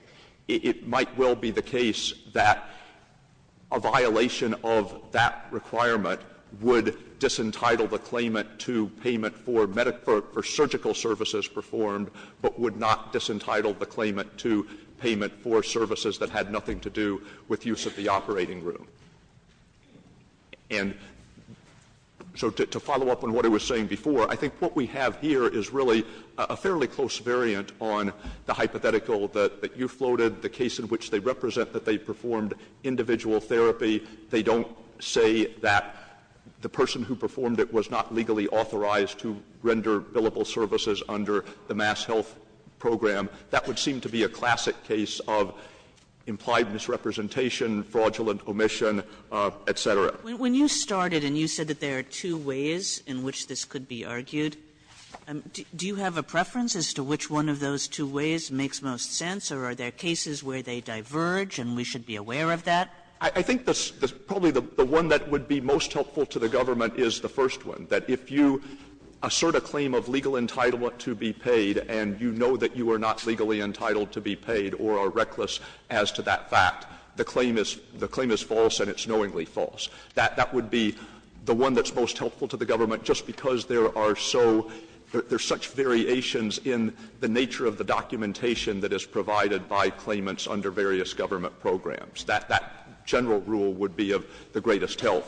it might well be the case that a violation of that requirement would disentitle the claimant to payment for medical or surgical services performed, but would not disentitle the claimant to payment for services that had nothing to do with use of the operating room. And so to follow up on what I was saying before, I think what we have here is really a fairly close variant on the hypothetical that you floated, the case in which they represent that they performed individual therapy. They don't say that the person who performed it was not legally authorized to render billable services under the MassHealth program. That would seem to be a classic case of implied misrepresentation, fraudulent omission, et cetera. Kagan. Kagan. Kagan. Kagan. When you started and you said that there are two ways in which this could be argued, do you have a preference as to which one of those two ways makes most sense or are there cases where they diverge and we should be aware of that? I think probably the one that would be most helpful to the government is the first one, that if you assert a claim of legal entitlement to be paid and you know that you are not legally entitled to be paid or are reckless as to that fact, the claim is false and it's knowingly false. That would be the one that's most helpful to the government, just because there are so — there are such variations in the nature of the documentation that is provided by claimants under various government programs. That general rule would be of the greatest help.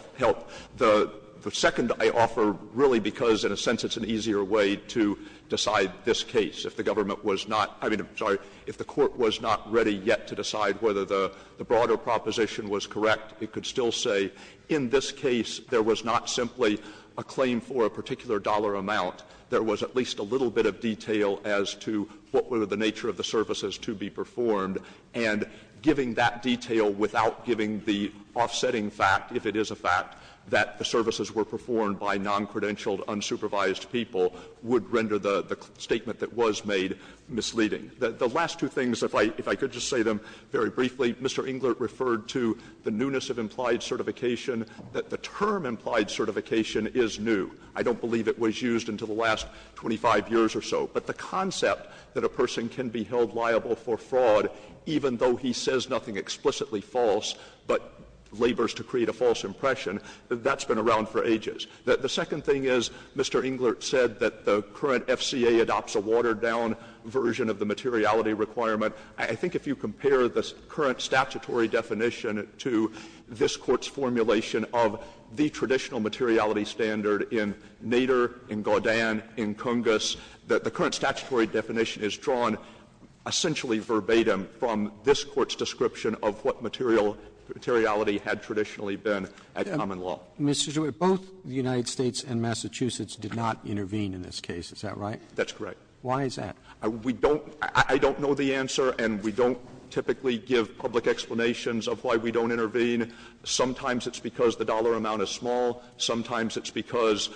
The second I offer, really because in a sense it's an easier way to decide this case, if the government was not — I mean, I'm sorry, if the Court was not ready yet to decide whether the broader proposition was correct, it could still say in this case there was not simply a claim for a particular dollar amount, there was at least a little bit of detail as to what were the nature of the services to be performed, and giving that detail without giving the offsetting fact, if it is a fact, that the services were performed by noncredentialed, unsupervised people would render the statement that was made misleading. The last two things, if I could just say them very briefly, Mr. Englert referred to the newness of implied certification, that the term implied certification is new. I don't believe it was used until the last 25 years or so. But the concept that a person can be held liable for fraud even though he says nothing explicitly false but labors to create a false impression, that's been around for ages. The second thing is Mr. Englert said that the current FCA adopts a watered-down version of the materiality requirement. I think if you compare the current statutory definition to this Court's formulation of the traditional materiality standard in Nader, in Gaudin, in Cungus, the current statutory definition is drawn essentially verbatim from this Court's description of what materiality had traditionally been at common law. Roberts. Roberts. Both the United States and Massachusetts did not intervene in this case, is that right? That's correct. Why is that? We don't — I don't know the answer, and we don't typically give public explanations of why we don't intervene. Sometimes it's because the dollar amount is small. Sometimes it's because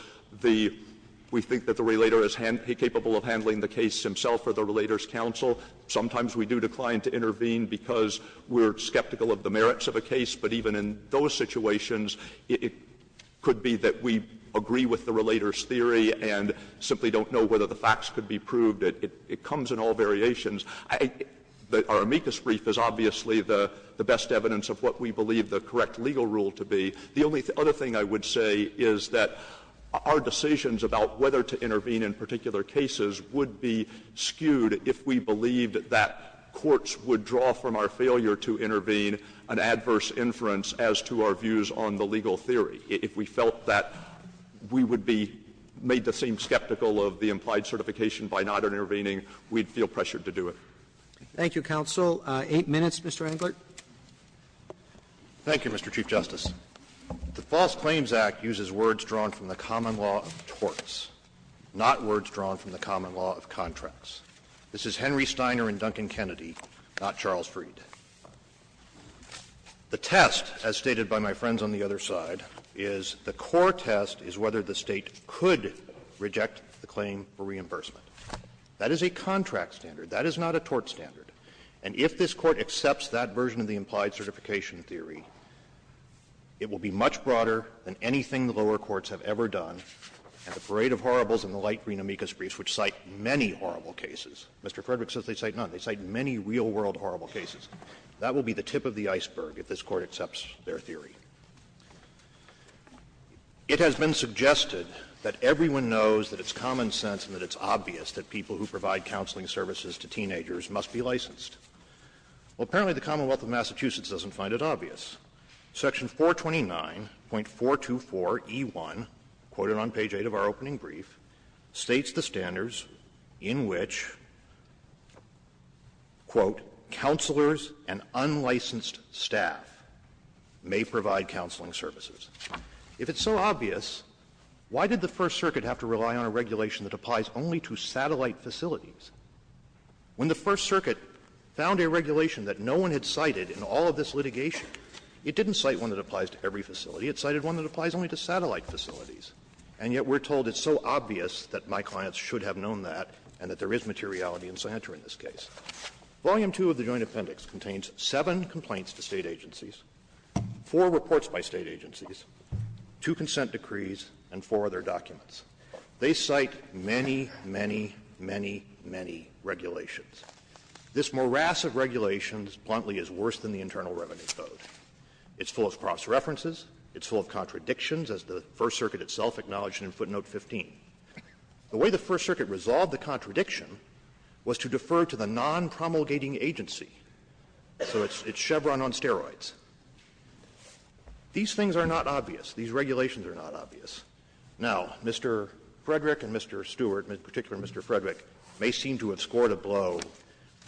the — we think that the relator is capable of handling the case himself or the relator's counsel. Sometimes we do decline to intervene because we're skeptical of the merits of a case. But even in those situations, it could be that we agree with the relator's theory and simply don't know whether the facts could be proved. It comes in all variations. Our amicus brief is obviously the best evidence of what we believe the correct legal rule to be. The only other thing I would say is that our decisions about whether to intervene in particular cases would be skewed if we believed that courts would draw from our failure to intervene an adverse inference as to our views on the legal theory. If we felt that we would be made to seem skeptical of the implied certification by not intervening, we'd feel pressured to do it. Thank you, counsel. Eight minutes, Mr. Englert. Thank you, Mr. Chief Justice. The False Claims Act uses words drawn from the common law of torts, not words drawn from the common law of contracts. This is Henry Steiner and Duncan Kennedy, not Charles Freed. The test, as stated by my friends on the other side, is the core test is whether the State could reject the claim for reimbursement. That is a contract standard. That is not a tort standard. And if this Court accepts that version of the implied certification theory, it will be much broader than anything the lower courts have ever done. And the Parade of Horribles and the light green amicus briefs, which cite many horrible cases, Mr. Frederick says they cite none. They cite many real-world horrible cases. That will be the tip of the iceberg if this Court accepts their theory. It has been suggested that everyone knows that it's common sense and that it's obvious that people who provide counseling services to teenagers must be licensed. Well, apparently the Commonwealth of Massachusetts doesn't find it obvious. Section 429.424e1, quoted on page 8 of our opening brief, states the standards in which, quote, "'counselors and unlicensed staff' may provide counseling services." If it's so obvious, why did the First Circuit have to rely on a regulation that applies only to satellite facilities? When the First Circuit found a regulation that no one had cited in all of this litigation, it didn't cite one that applies to every facility. It cited one that applies only to satellite facilities. And yet we're told it's so obvious that my clients should have known that and that there is materiality and sanctuary in this case. Volume 2 of the Joint Appendix contains seven complaints to State agencies, four reports by State agencies, two consent decrees, and four other documents. They cite many, many, many, many regulations. This morass of regulations bluntly is worse than the Internal Revenue Code. It's full of cross-references. It's full of contradictions, as the First Circuit itself acknowledged in footnote 15. The way the First Circuit resolved the contradiction was to defer to the non-promulgating agency. So it's Chevron on steroids. These things are not obvious. These regulations are not obvious. Now, Mr. Frederick and Mr. Stewart, in particular Mr. Frederick, may seem to have scored a blow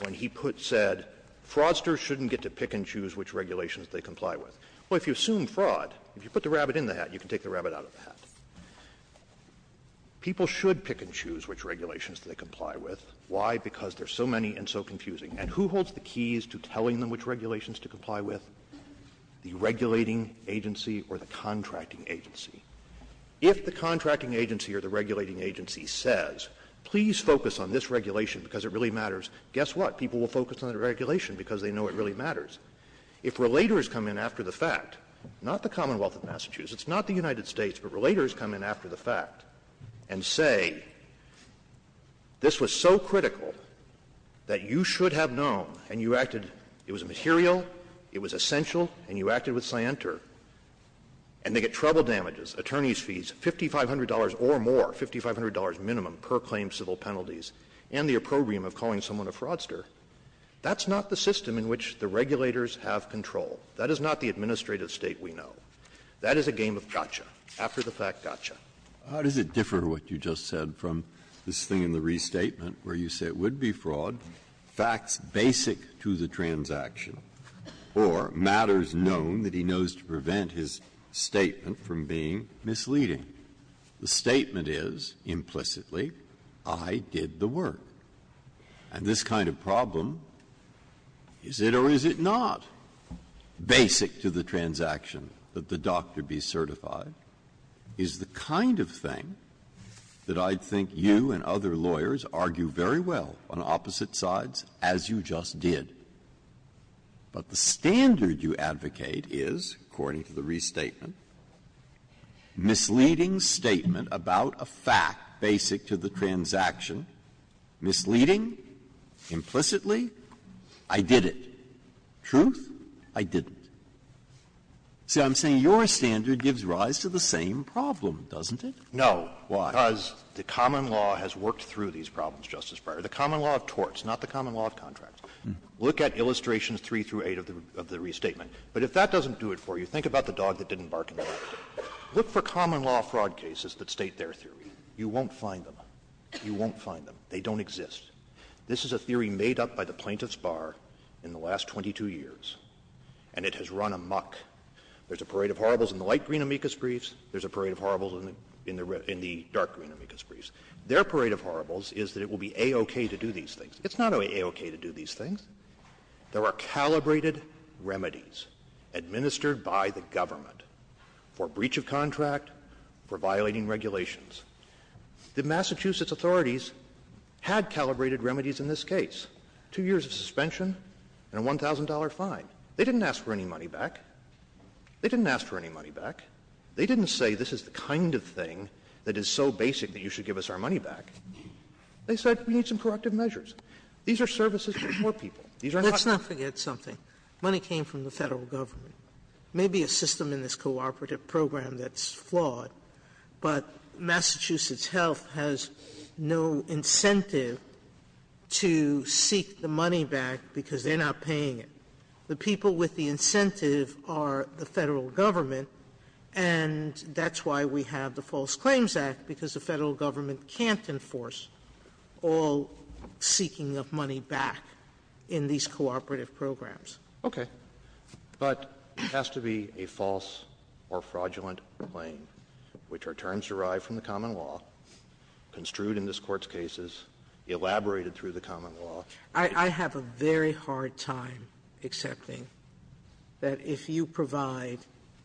when he put said, fraudsters shouldn't get to pick and choose which regulations they comply with. Well, if you assume fraud, if you put the rabbit in the hat, you can take the rabbit out of the hat. People should pick and choose which regulations they comply with. Why? Because there are so many and so confusing. And who holds the keys to telling them which regulations to comply with? The regulating agency or the contracting agency. If the contracting agency or the regulating agency says, please focus on this regulation because it really matters, guess what? People will focus on the regulation because they know it really matters. If relators come in after the fact, not the Commonwealth of Massachusetts, not the United States, but relators come in after the fact and say this was so critical that you should have known and you acted, it was material, it was essential, and you acted with scienter, and they get trouble damages, attorney's fees, $5,500 or more, $5,500 minimum per claim civil penalties, and the opprobrium of calling someone a fraudster, that's not the system in which the regulating agency or the contracting agency or the regulators have control. That is not the administrative state we know. That is a game of gotcha, after-the-fact gotcha. Breyer, how does it differ what you just said from this thing in the restatement where you say it would be fraud, facts basic to the transaction, or matters known that he knows to prevent his statement from being misleading? The statement is, implicitly, I did the work. And this kind of problem, is it or is it not, basic to the transaction that the doctor be certified, is the kind of thing that I'd think you and other lawyers argue very well on opposite sides, as you just did. But the standard you advocate is, according to the restatement, misleading statement about a fact basic to the transaction, misleading, implicitly, I did it. Truth, I didn't. See, I'm saying your standard gives rise to the same problem, doesn't it? No. Why? Because the common law has worked through these problems, Justice Breyer. The common law of torts, not the common law of contracts. Look at illustrations 3 through 8 of the restatement. But if that doesn't do it for you, think about the dog that didn't bark in the first case. Look for common law fraud cases that state their theory. You won't find them. You won't find them. They don't exist. This is a theory made up by the plaintiff's bar in the last 22 years. And it has run amok. There's a parade of horribles in the light green amicus briefs. There's a parade of horribles in the dark green amicus briefs. Their parade of horribles is that it will be A-OK to do these things. It's not A-OK to do these things. There are calibrated remedies administered by the government for breach of contract, for violating regulations. The Massachusetts authorities had calibrated remedies in this case. Two years of suspension and a $1,000 fine. They didn't ask for any money back. They didn't ask for any money back. They didn't say, this is the kind of thing that is so basic that you should give us our money back. They said, we need some corrective measures. These are services for poor people. These are services for poor people. Sotomayor, let's not forget something. Money came from the Federal Government. Maybe a system in this cooperative program that's flawed, but Massachusetts Health has no incentive to seek the money back because they're not paying it. The people with the incentive are the Federal Government, and that's why we have the False Claims Act, because the Federal Government can't enforce all seeking of money back in these cooperative programs. Roberts. But it has to be a false or fraudulent claim, which are terms derived from the common law, construed in this Court's cases, elaborated through the common law. I have a very hard time accepting that if you provide,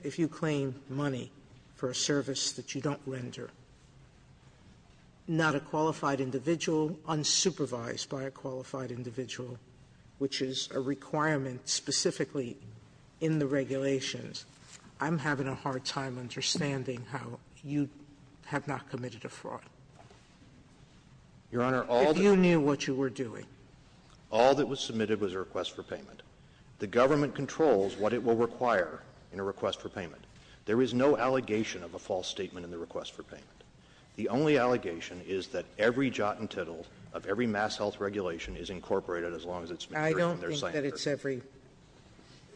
if you claim money for a service that you don't render, not a qualified individual, unsupervised by a qualified individual, which is a requirement specifically in the regulations, I'm having a hard time understanding how you have not committed a fraud. Your Honor, all that you knew what you were doing. All that was submitted was a request for payment. The government controls what it will require in a request for payment. There is no allegation of a false statement in the request for payment. The only allegation is that every jot and tittle of every MassHealth regulation is incorporated, as long as it's measured from their signature. I don't think that it's every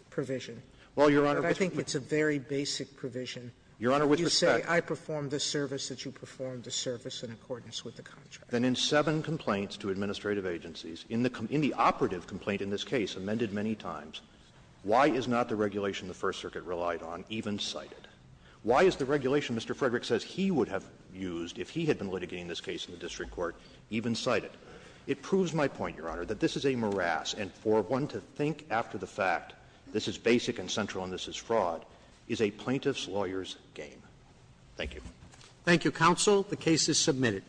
provision. Well, Your Honor, with respect to the others. I think it's a very basic provision. Your Honor, with respect to the others. You say I perform this service, that you perform the service in accordance with the contract. Then in seven complaints to administrative agencies, in the operative complaint in this case, amended many times, why is not the regulation the First Circuit relied on even cited? Why is the regulation Mr. Frederick says he would have used if he had been litigating this case in the district court even cited? It proves my point, Your Honor, that this is a morass, and for one to think after the fact, this is basic and central and this is fraud, is a plaintiff's lawyer's game. Thank you. Thank you, counsel. The case is submitted.